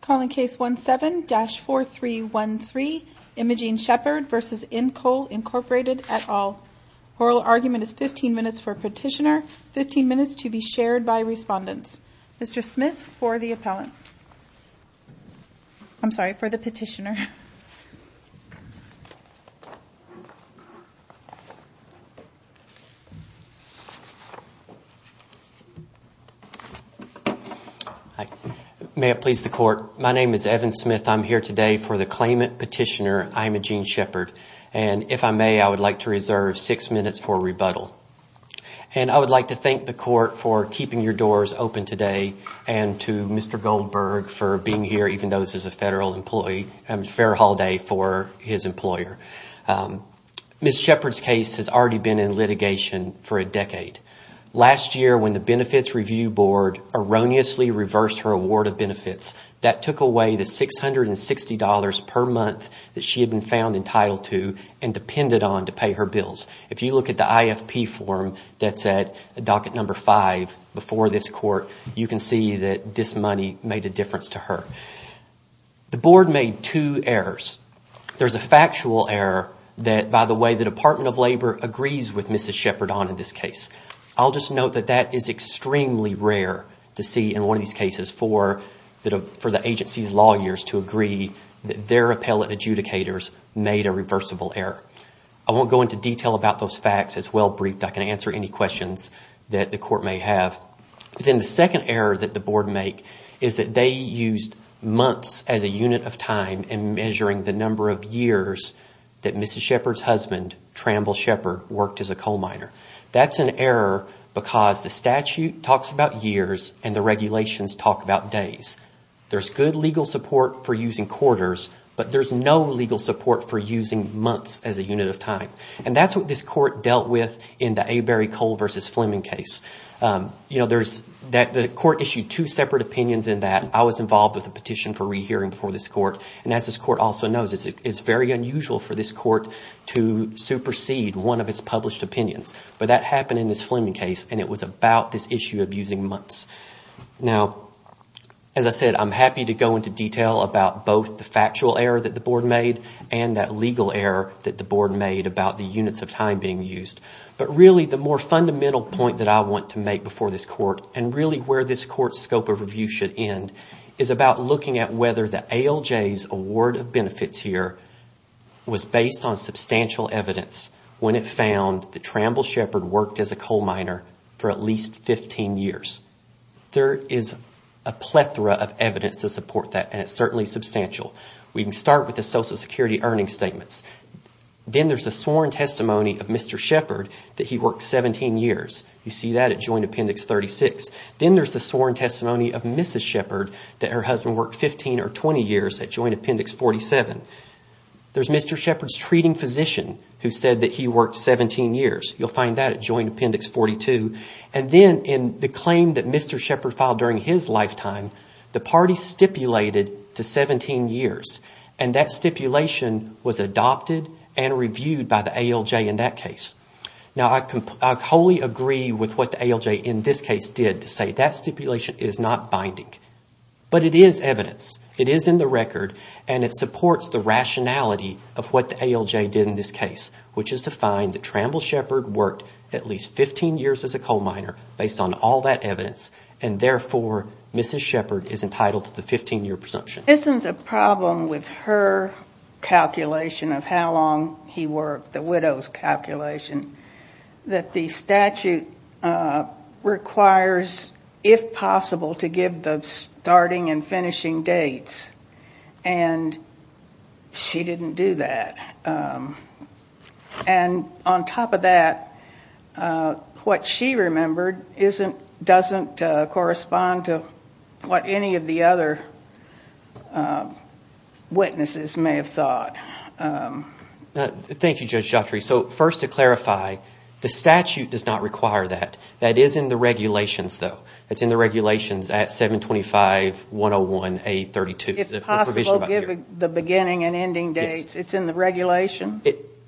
Call in case 17-4313, Imogene Shepherd v. Incoal Inc. et al. Oral argument is 15 minutes for petitioner, 15 minutes to be shared by respondents. Mr. Smith for the appellant. I'm sorry, for the petitioner. May it please the court, my name is Evan Smith. I'm here today for the claimant petitioner, Imogene Shepherd. And if I may, I would like to reserve six minutes for rebuttal. And I would like to thank the court for keeping your doors open today. And to Mr. Goldberg for being here, even though this is a federal employee, and a fair holiday for his employer. Ms. Shepherd's case has already been in litigation for a decade. Last year, when the Benefits Review Board erroneously reversed her award of benefits, that took away the $660 per month that she had been found entitled to and depended on to pay her bills. If you look at the IFP form that's at docket number five before this court, you can see that this money made a difference to her. The board made two errors. There's a factual error that, by the way, the Department of Labor agrees with Mrs. Shepherd on in this case. I'll just note that that is extremely rare to see in one of these cases for the agency's lawyers to agree that their appellate adjudicators made a reversible error. I won't go into detail about those facts. It's well briefed. I can answer any questions that the court may have. Then the second error that the board make is that they used months as a unit of time in measuring the number of years that Mrs. Shepherd's husband, Tramble Shepherd, worked as a coal miner. That's an error because the statute talks about years and the regulations talk about days. There's good legal support for using quarters, but there's no legal support for using months as a unit of time. And that's what this court dealt with in the Avery Coal v. Fleming case. The court issued two separate opinions in that. I was involved with the petition for rehearing before this court. And as this court also knows, it's very unusual for this court to supersede one of its published opinions. But that happened in this Fleming case, and it was about this issue of using months. Now, as I said, I'm happy to go into detail about both the factual error that the board made and that legal error that the board made about the units of time being used. But really, the more fundamental point that I want to make before this court, and really where this court's scope of review should end, is about looking at whether the ALJ's award of benefits here was based on substantial evidence when it found that Tramble Shepard worked as a coal miner for at least 15 years. There is a plethora of evidence to support that, and it's certainly substantial. We can start with the Social Security earnings statements. Then there's a sworn testimony of Mr. Shepard that he worked 17 years. You see that at Joint Appendix 36. Then there's the sworn testimony of Mrs. Shepard that her husband worked 15 or 20 years at Joint Appendix 47. There's Mr. Shepard's treating physician who said that he worked 17 years. You'll find that at Joint Appendix 42. And then in the claim that Mr. Shepard filed during his lifetime, the party stipulated to 17 years. And that stipulation was adopted and reviewed by the ALJ in that case. Now, I wholly agree with what the ALJ in this case did to say that stipulation is not binding. But it is evidence. It is in the record, and it supports the rationality of what the ALJ did in this case, which is to find that Tramble Shepard worked at least 15 years as a coal miner based on all that evidence, and therefore Mrs. Shepard is entitled to the 15-year presumption. Isn't the problem with her calculation of how long he worked, the widow's calculation, that the statute requires, if possible, to give the starting and finishing dates? And she didn't do that. And on top of that, what she remembered doesn't correspond to what any of the other witnesses may have thought. Thank you, Judge Juttry. So first to clarify, the statute does not require that. That is in the regulations, though. It's in the regulations at 725.101.A.32. If possible, give the beginning and ending dates. It's in the regulation?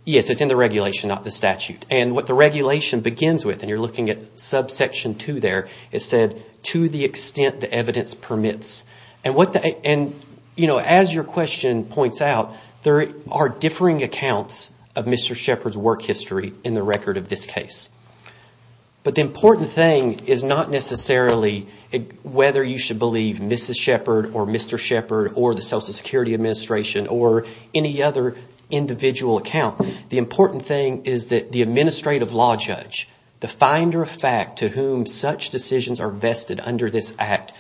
Yes, it's in the regulation, not the statute. And what the regulation begins with, and you're looking at subsection 2 there, it said to the extent the evidence permits. And as your question points out, there are differing accounts of Mr. Shepard's work history in the record of this case. But the important thing is not necessarily whether you should believe Mrs. Shepard or Mr. Shepard or the Social Security Administration or any other individual account. The important thing is that the administrative law judge, the finder of fact to whom such decisions are vested under this Act,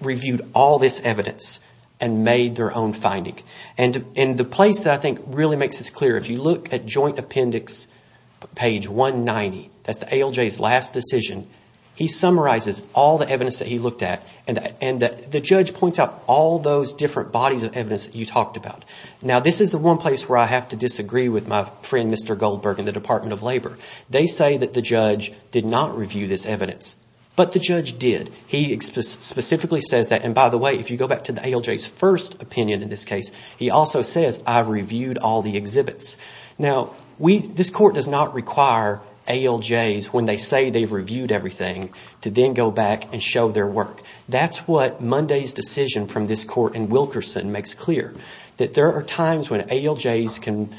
reviewed all this evidence and made their own finding. And the place that I think really makes this clear, if you look at Joint Appendix page 190, that's the ALJ's last decision, he summarizes all the evidence that he looked at. And the judge points out all those different bodies of evidence that you talked about. Now, this is the one place where I have to disagree with my friend, Mr. Goldberg, in the Department of Labor. They say that the judge did not review this evidence, but the judge did. He specifically says that, and by the way, if you go back to the ALJ's first opinion in this case, he also says, I reviewed all the exhibits. Now, this court does not require ALJs, when they say they've reviewed everything, to then go back and show their work. That's what Monday's decision from this court in Wilkerson makes clear, that there are times when ALJs can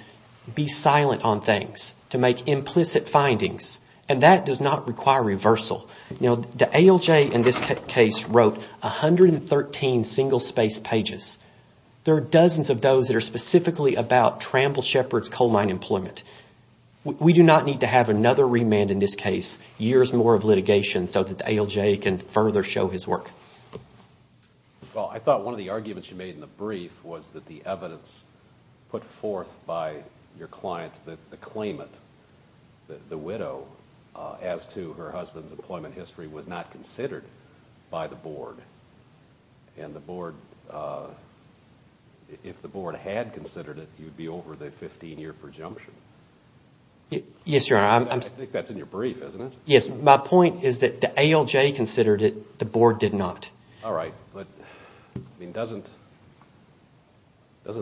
be silent on things, to make implicit findings, and that does not require reversal. Now, the ALJ in this case wrote 113 single-space pages. There are dozens of those that are specifically about Tramble Shepard's coal mine employment. We do not need to have another remand in this case, years more of litigation, so that the ALJ can further show his work. Well, I thought one of the arguments you made in the brief was that the evidence put forth by your client, the claimant, the widow, as to her husband's employment history was not considered by the board, and if the board had considered it, you'd be over the 15-year prejunction. Yes, Your Honor. I think that's in your brief, isn't it? Yes, my point is that the ALJ considered it, the board did not. All right, but doesn't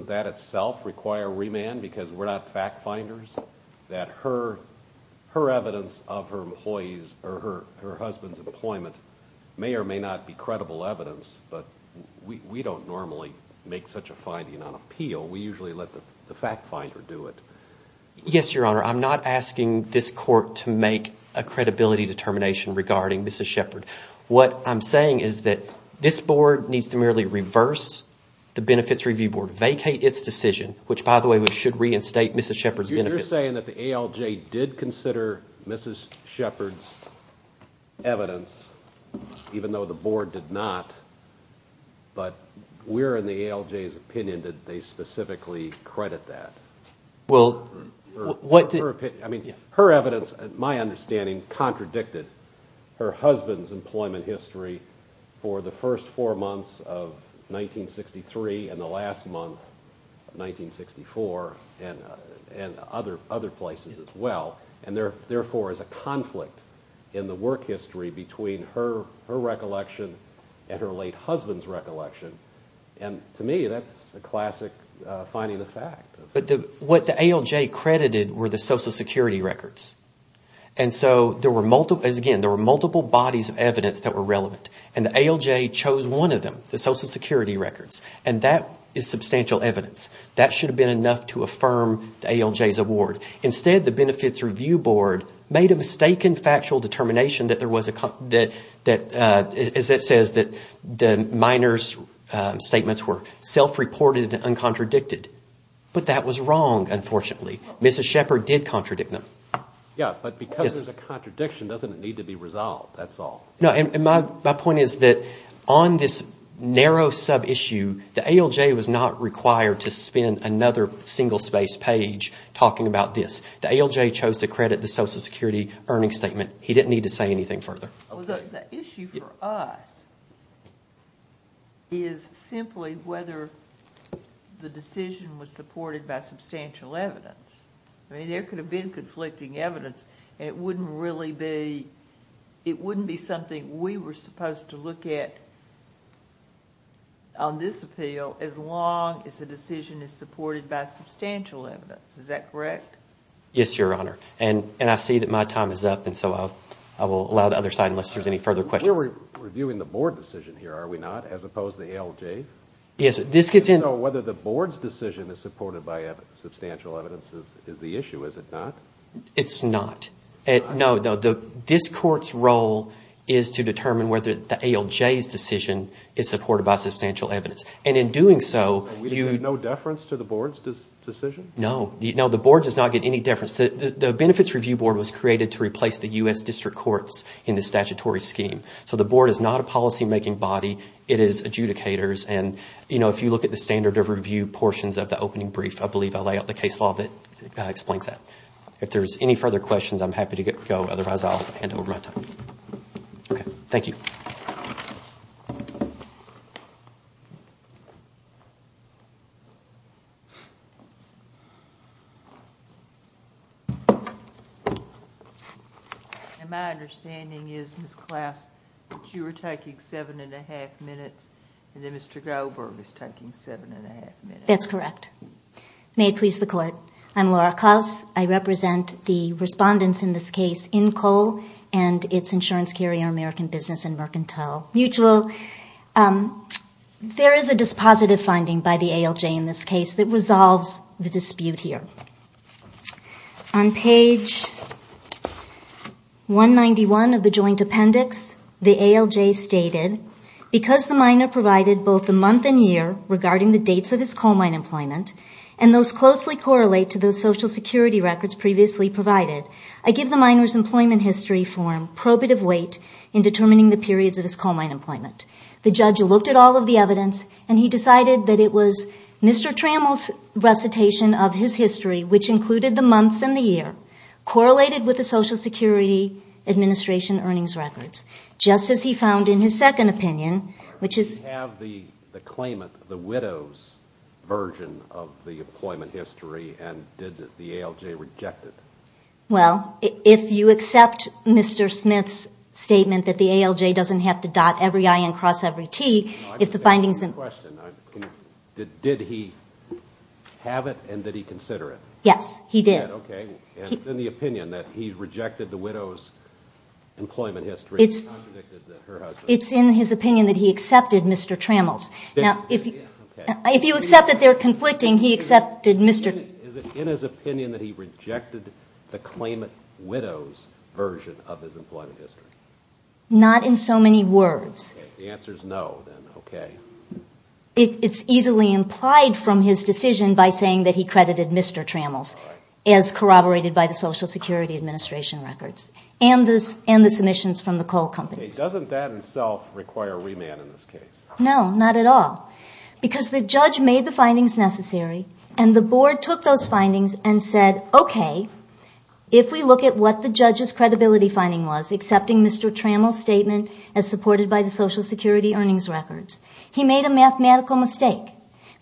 that itself require remand, because we're not fact-finders? That her evidence of her husband's employment may or may not be credible evidence, but we don't normally make such a finding on appeal. We usually let the fact-finder do it. Yes, Your Honor, I'm not asking this court to make a credibility determination regarding Mrs. Shepard. What I'm saying is that this board needs to merely reverse the Benefits Review Board, vacate its decision, which, by the way, should reinstate Mrs. Shepard's benefits. You're saying that the ALJ did consider Mrs. Shepard's evidence, even though the board did not, but we're in the ALJ's opinion that they specifically credit that. Her evidence, my understanding, contradicted her husband's employment history for the first four months of 1963 and the last month of 1964 and other places as well, and therefore is a conflict in the work history between her recollection and her late husband's recollection, and to me that's a classic finding of fact. But what the ALJ credited were the Social Security records, and so, again, there were multiple bodies of evidence that were relevant, and the ALJ chose one of them, the Social Security records, and that is substantial evidence. That should have been enough to affirm the ALJ's award. Instead, the Benefits Review Board made a mistaken factual determination that there was, as it says, that the minor's statements were self-reported and uncontradicted, but that was wrong, unfortunately. Mrs. Shepard did contradict them. Yeah, but because there's a contradiction, doesn't it need to be resolved? That's all. No, and my point is that on this narrow sub-issue, the ALJ was not required to spend another single-space page talking about this. The ALJ chose to credit the Social Security earnings statement. He didn't need to say anything further. The issue for us is simply whether the decision was supported by substantial evidence. I mean, there could have been conflicting evidence, and it wouldn't really be something we were supposed to look at on this appeal as long as the decision is supported by substantial evidence. Is that correct? Yes, Your Honor, and I see that my time is up, and so I will allow the other side unless there's any further questions. We're reviewing the Board decision here, are we not, as opposed to the ALJ's? Yes, this gets in— So whether the Board's decision is supported by substantial evidence is the issue, is it not? It's not. It's not? No, this Court's role is to determine whether the ALJ's decision is supported by substantial evidence, and in doing so— And we get no deference to the Board's decision? No, the Board does not get any deference. The Benefits Review Board was created to replace the U.S. District Courts in the statutory scheme, so the Board is not a policymaking body, it is adjudicators, and if you look at the standard of review portions of the opening brief, I believe I lay out the case law that explains that. If there's any further questions, I'm happy to go, otherwise I'll hand over my time. Okay, thank you. And my understanding is, Ms. Klaus, that you were taking 7 1⁄2 minutes, and then Mr. Goldberg is taking 7 1⁄2 minutes. That's correct. May it please the Court, I'm Laura Klaus. I represent the respondents in this case in COLE and its insurance carrier American Business and Mercantile Mutual. There is a dispositive finding by the ALJ in this case that resolves the dispute here. On page 191 of the joint appendix, the ALJ stated, because the miner provided both the month and year regarding the dates of his coal mine employment, and those closely correlate to the Social Security records previously provided, I give the miner's employment history form probative weight in determining the periods of his coal mine employment. The judge looked at all of the evidence, and he decided that it was Mr. Trammell's recitation of his history, which included the months and the year, correlated with the Social Security Administration earnings records, just as he found in his second opinion, which is... Did he have the claimant, the widow's version of the employment history, and did the ALJ reject it? Well, if you accept Mr. Smith's statement that the ALJ doesn't have to dot every I and cross every T, if the findings... I have a question. Did he have it, and did he consider it? Yes, he did. Okay. It's in the opinion that he rejected the widow's employment history. It's in his opinion that he accepted Mr. Trammell's. Now, if you accept that they're conflicting, he accepted Mr... Is it in his opinion that he rejected the claimant widow's version of his employment history? Not in so many words. If the answer is no, then okay. It's easily implied from his decision by saying that he credited Mr. Trammell's, as corroborated by the Social Security Administration records, and the submissions from the coal companies. Doesn't that itself require remand in this case? No, not at all. Because the judge made the findings necessary, and the board took those findings and said, okay, if we look at what the judge's credibility finding was, accepting Mr. Trammell's statement as supported by the Social Security earnings records. He made a mathematical mistake.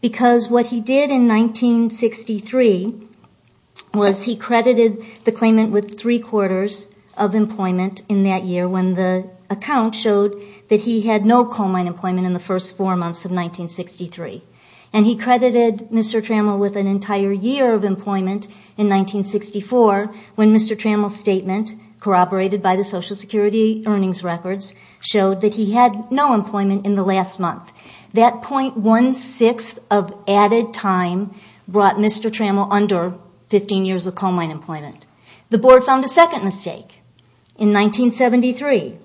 Because what he did in 1963 was he credited the claimant with three quarters of employment in that year, when the account showed that he had no coal mine employment in the first four months of 1963. And he credited Mr. Trammell with an entire year of employment in 1964, when Mr. Trammell's statement, corroborated by the Social Security earnings records, showed that he had no employment in the last month. That .16 of added time brought Mr. Trammell under 15 years of coal mine employment. The board found a second mistake. In 1973,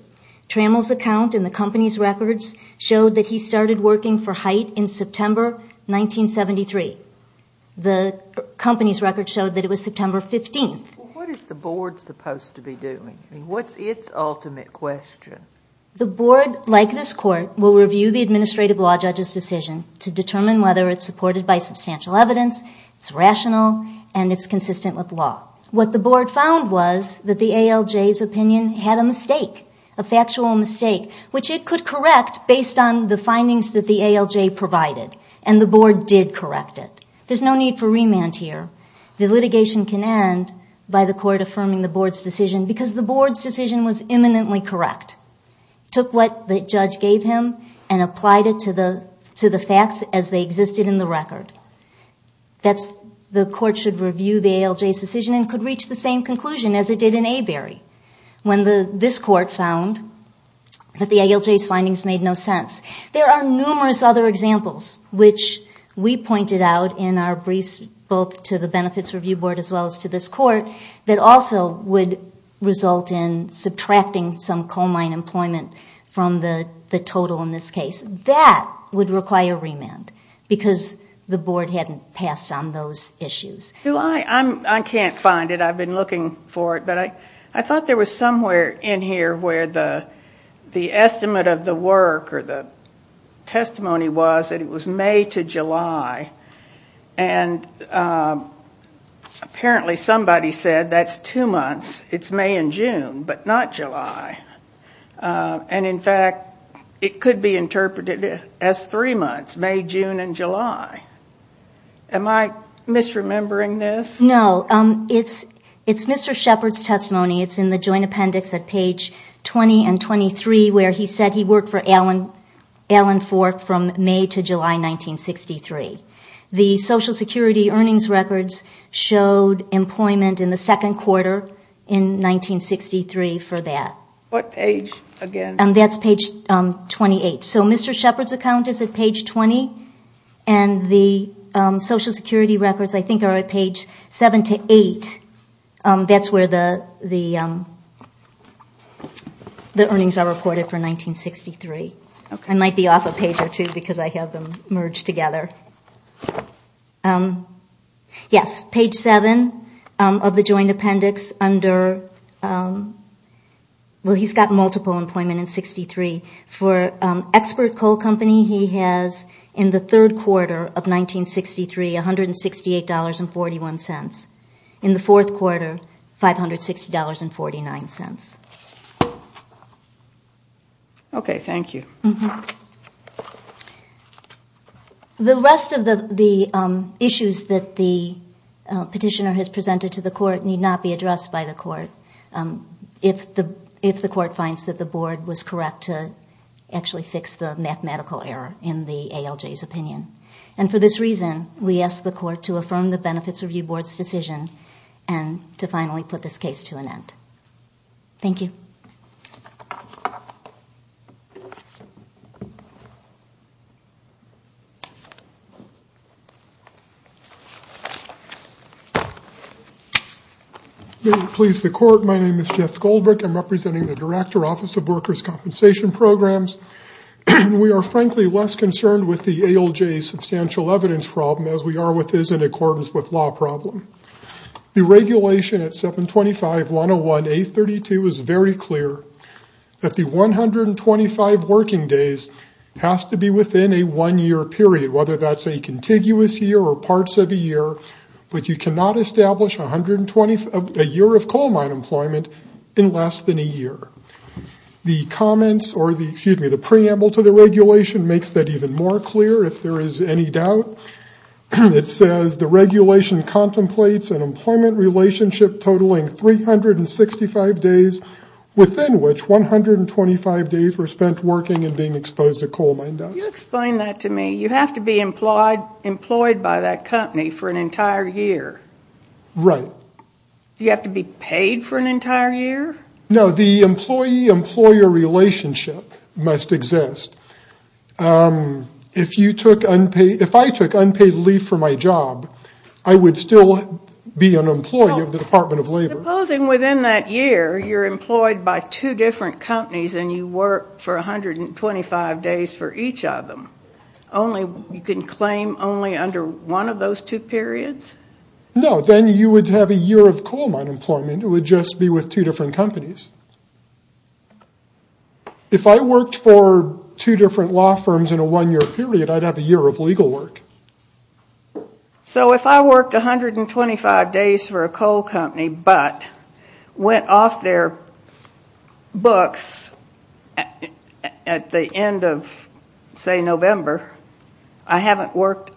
Trammell's account in the company's records showed that he started working for HITE in September 1973. The company's records showed that it was September 15th. What is the board supposed to be doing? What's its ultimate question? The board, like this court, will review the administrative law judge's decision to determine whether it's supported by substantial evidence, it's rational, and it's consistent with law. What the board found was that the ALJ's opinion had a mistake, a factual mistake, which it could correct based on the findings that the ALJ provided. And the board did correct it. There's no need for remand here. The litigation can end by the court affirming the board's decision, because the board's decision was imminently correct. It took what the judge gave him and applied it to the facts as they existed in the record. The court should review the ALJ's decision and could reach the same conclusion as it did in Avery, when this court found that the ALJ's findings made no sense. There are numerous other examples, which we pointed out in our briefs, both to the Benefits Review Board as well as to this court, that also would result in subtracting some coal mine employment from the total in this case. That would require remand because the board hadn't passed on those issues. I can't find it. I've been looking for it, but I thought there was somewhere in here where the estimate of the work or the testimony was that it was May to July. And apparently somebody said that's two months. It's May and June, but not July. And, in fact, it could be interpreted as three months, May, June, and July. Am I misremembering this? No. It's Mr. Shepard's testimony. It's in the joint appendix at page 20 and 23, where he said he worked for Alan Fork from May to July 1963. The Social Security earnings records showed employment in the second quarter in 1963 for that. What page again? That's page 28. So Mr. Shepard's account is at page 20, and the Social Security records, I think, are at page 7 to 8. That's where the earnings are recorded for 1963. I might be off a page or two because I have them merged together. Yes, page 7 of the joint appendix under, well, he's got multiple employment in 63. For Expert Coal Company, he has, in the third quarter of 1963, $168.41. In the fourth quarter, $560.49. Okay, thank you. The rest of the issues that the petitioner has presented to the court need not be addressed by the court if the court finds that the board was correct to actually fix the mathematical error in the ALJ's opinion. And for this reason, we ask the court to affirm the Benefits Review Board's decision and to finally put this case to an end. Thank you. May it please the court, my name is Jeff Goldberg. I'm representing the Director, Office of Workers' Compensation Programs. We are, frankly, less concerned with the ALJ's substantial evidence problem as we are with his in accordance with law problem. The regulation at 725-101-832 is very clear that the 125 working days has to be within a one-year period, whether that's a contiguous year or parts of a year, but you cannot establish a year of coal mine employment in less than a year. The preamble to the regulation makes that even more clear if there is any doubt. It says the regulation contemplates an employment relationship totaling 365 days, within which 125 days were spent working and being exposed to coal mine dust. Can you explain that to me? You have to be employed by that company for an entire year. Right. Do you have to be paid for an entire year? No. The employee-employer relationship must exist. If I took unpaid leave for my job, I would still be an employee of the Department of Labor. Supposing within that year you're employed by two different companies and you work for 125 days for each of them. You can claim only under one of those two periods? No. Then you would have a year of coal mine employment. It would just be with two different companies. If I worked for two different law firms in a one-year period, I'd have a year of legal work. So if I worked 125 days for a coal company but went off their books at the end of, say, November, I haven't worked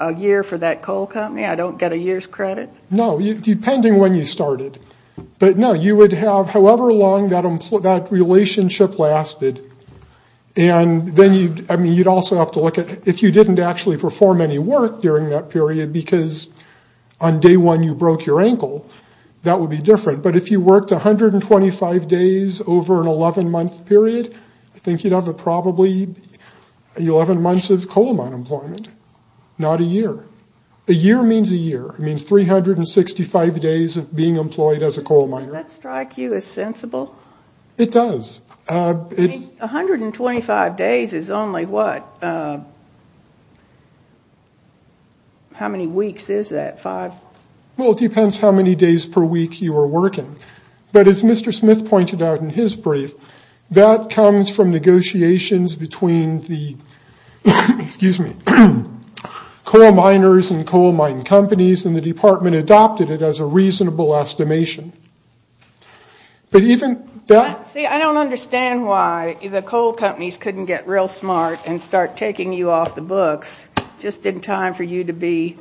a year for that coal company? I don't get a year's credit? No, depending when you started. But, no, you would have however long that relationship lasted. And then you'd also have to look at if you didn't actually perform any work during that period because on day one you broke your ankle, that would be different. But if you worked 125 days over an 11-month period, I think you'd have probably 11 months of coal mine employment, not a year. A year means a year. It means 365 days of being employed as a coal miner. Does that strike you as sensible? It does. I mean, 125 days is only what? How many weeks is that, five? Well, it depends how many days per week you are working. But as Mr. Smith pointed out in his brief, that comes from negotiations between the coal miners and coal mining companies, and the department adopted it as a reasonable estimation. But even that? See, I don't understand why the coal companies couldn't get real smart and start taking you off the books just in time for you to be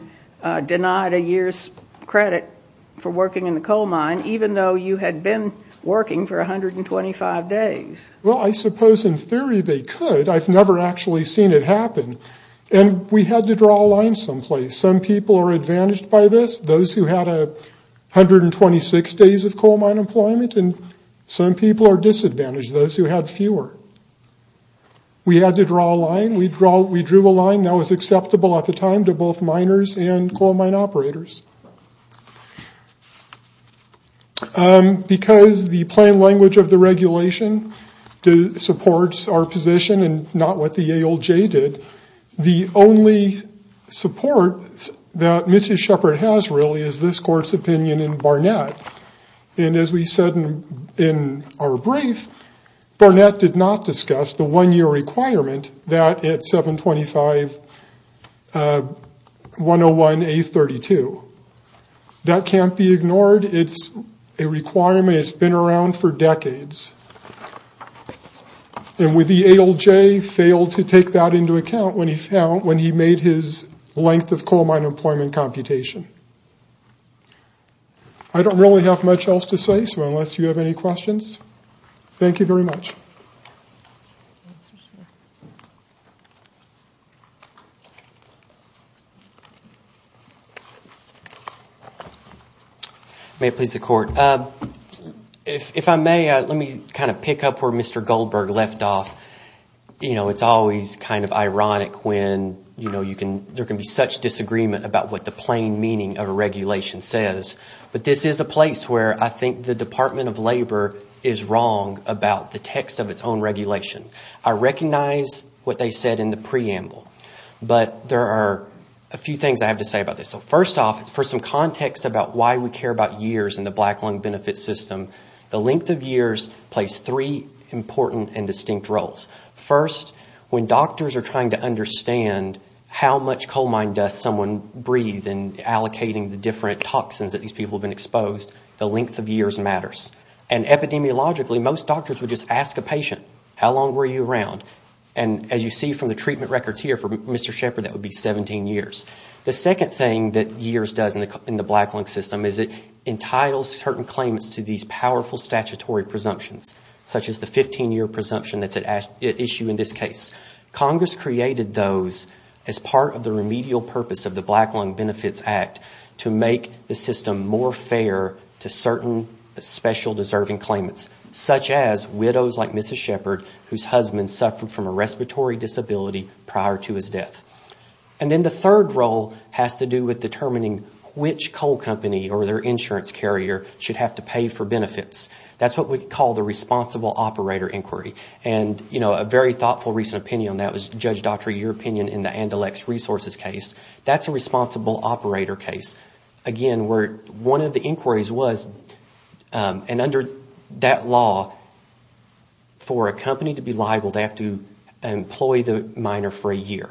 denied a year's credit for working in the coal mine even though you had been working for 125 days. Well, I suppose in theory they could. I've never actually seen it happen. And we had to draw a line someplace. Some people are advantaged by this, those who had 126 days of coal mine employment, and some people are disadvantaged, those who had fewer. We had to draw a line. We drew a line that was acceptable at the time to both miners and coal mine operators. Because the plain language of the regulation supports our position and not what the ALJ did, the only support that Mrs. Shepard has really is this court's opinion in Barnett. And as we said in our brief, Barnett did not discuss the one-year requirement that at 725.101.A.32. That can't be ignored. It's a requirement that's been around for decades. And the ALJ failed to take that into account when he made his length of coal mine employment computation. I don't really have much else to say, so unless you have any questions, thank you very much. May it please the Court. If I may, let me kind of pick up where Mr. Goldberg left off. You know, it's always kind of ironic when, you know, there can be such disagreement about what the plain meaning of a regulation says. But this is a place where I think the Department of Labor is wrong about the text of its own regulation. I recognize what they said in the preamble, but there are a few things I have to say about this. So first off, for some context about why we care about years in the black lung benefit system, the length of years plays three important and distinct roles. First, when doctors are trying to understand how much coal mine does someone breathe and allocating the different toxins that these people have been exposed, the length of years matters. And epidemiologically, most doctors would just ask a patient, how long were you around? And as you see from the treatment records here for Mr. Shepard, that would be 17 years. The second thing that years does in the black lung system is it entitles certain claimants to these powerful statutory presumptions, such as the 15-year presumption that's at issue in this case. Congress created those as part of the remedial purpose of the Black Lung Benefits Act to make the system more fair to certain special deserving claimants, such as widows like Mrs. Shepard whose husband suffered from a respiratory disability prior to his death. And then the third role has to do with determining which coal company or their insurance carrier should have to pay for benefits. That's what we call the responsible operator inquiry. And a very thoughtful recent opinion on that was, Judge Daughtry, your opinion in the Andalex Resources case. That's a responsible operator case. Again, one of the inquiries was, and under that law, for a company to be liable, they have to employ the miner for a year.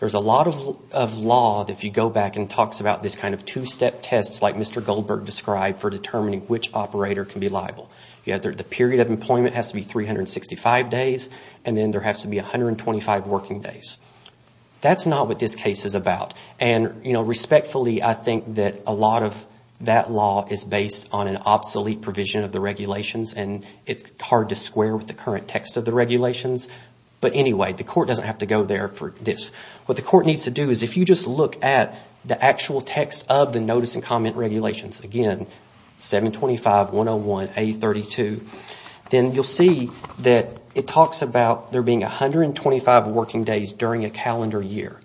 There's a lot of law that if you go back and talks about this kind of two-step test like Mr. Goldberg described for determining which operator can be liable. The period of employment has to be 365 days and then there has to be 125 working days. That's not what this case is about. And respectfully, I think that a lot of that law is based on an obsolete provision of the regulations and it's hard to square with the current text of the regulations. But anyway, the court doesn't have to go there for this. What the court needs to do is if you just look at the actual text of the notice and comment regulations, again, 725, 101, A32, then you'll see that it talks about there being 125 working days during a calendar year.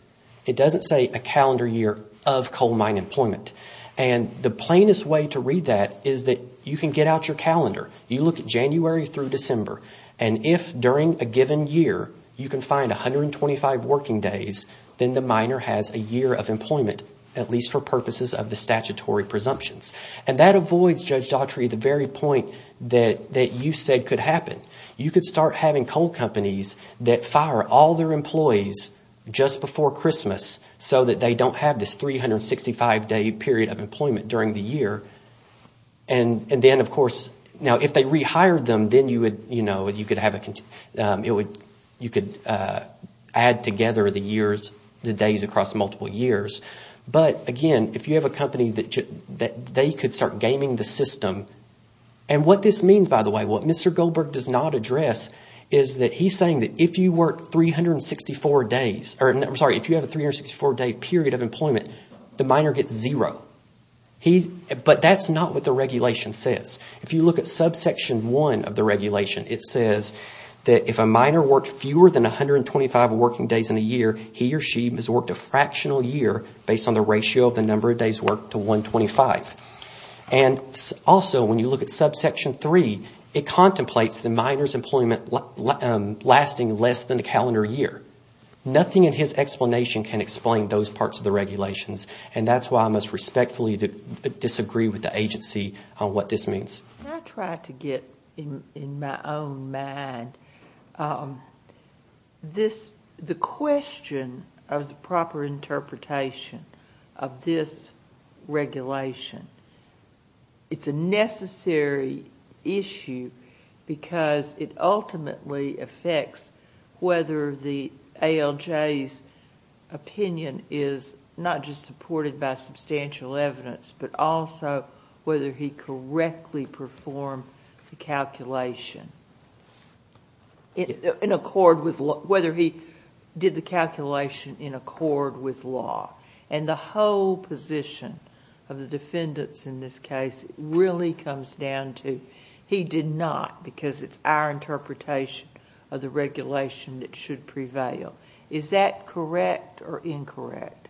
It doesn't say a calendar year of coal mine employment. And the plainest way to read that is that you can get out your calendar. You look at January through December and if during a given year you can find 125 working days, then the miner has a year of employment, at least for purposes of the statutory presumptions. And that avoids, Judge Daughtry, the very point that you said could happen. You could start having coal companies that fire all their employees just before Christmas so that they don't have this 365-day period of employment during the year. And then, of course, if they rehired them, then you could add together the days across multiple years. But again, if you have a company, they could start gaming the system. And what this means, by the way, what Mr. Goldberg does not address is that he's saying that if you work 364 days, or I'm sorry, if you have a 364-day period of employment, the miner gets zero. But that's not what the regulation says. If you look at subsection 1 of the regulation, it says that if a miner worked fewer than 125 working days in a year, he or she has worked a fractional year based on the ratio of the number of days worked to 125. And also, when you look at subsection 3, it contemplates the miner's employment lasting less than the calendar year. Nothing in his explanation can explain those parts of the regulations. And that's why I must respectfully disagree with the agency on what this means. I try to get in my own mind this, the question of the proper interpretation of this regulation. It's a necessary issue because it ultimately affects whether the company is going to be able to do it or not. ALJ's opinion is not just supported by substantial evidence, but also whether he correctly performed the calculation in accord with... whether he did the calculation in accord with law. And the whole position of the defendants in this case really comes down to he did not because it's our interpretation of the Is that correct or incorrect?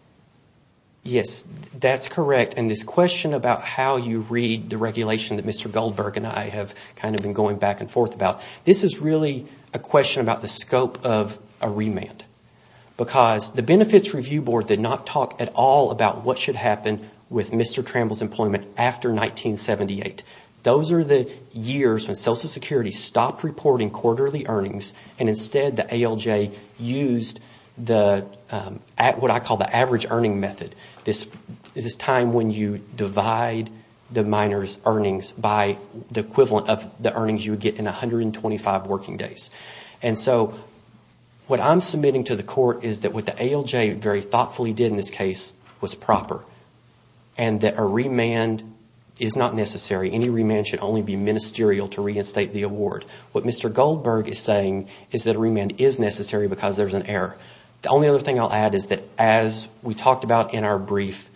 Yes, that's correct. And this question about how you read the regulation that Mr. Goldberg and I have kind of been going back and forth about, this is really a question about the scope of a remand. Because the Benefits Review Board did not talk at all about what should happen with Mr. Tramble's employment after 1978. Those are the years when Social Security stopped reporting quarterly earnings and instead the ALJ stopped reporting quarterly earnings. And used what I call the average earning method. This time when you divide the minor's earnings by the equivalent of the earnings you would get in 125 working days. And so what I'm submitting to the court is that what the ALJ very thoughtfully did in this case was proper. And that a remand is not necessary. Any remand should only be ministerial to reinstate the award. What Mr. Goldberg is saying is that a remand is necessary because there's an error. The only other thing I'll add is that as we talked about in our brief,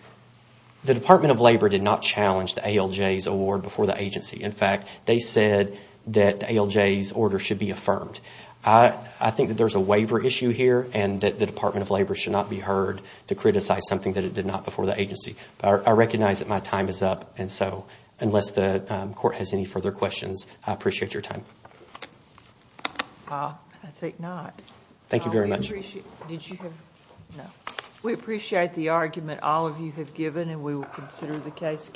the Department of Labor did not challenge the ALJ's award before the agency. In fact, they said that the ALJ's order should be affirmed. I think that there's a waiver issue here and that the Department of Labor should not be heard to criticize something that it did not before the agency. But I recognize that my time is up and so unless the court has any further questions, I appreciate your time. I think not. We appreciate the argument all of you have given and we will consider the case carefully.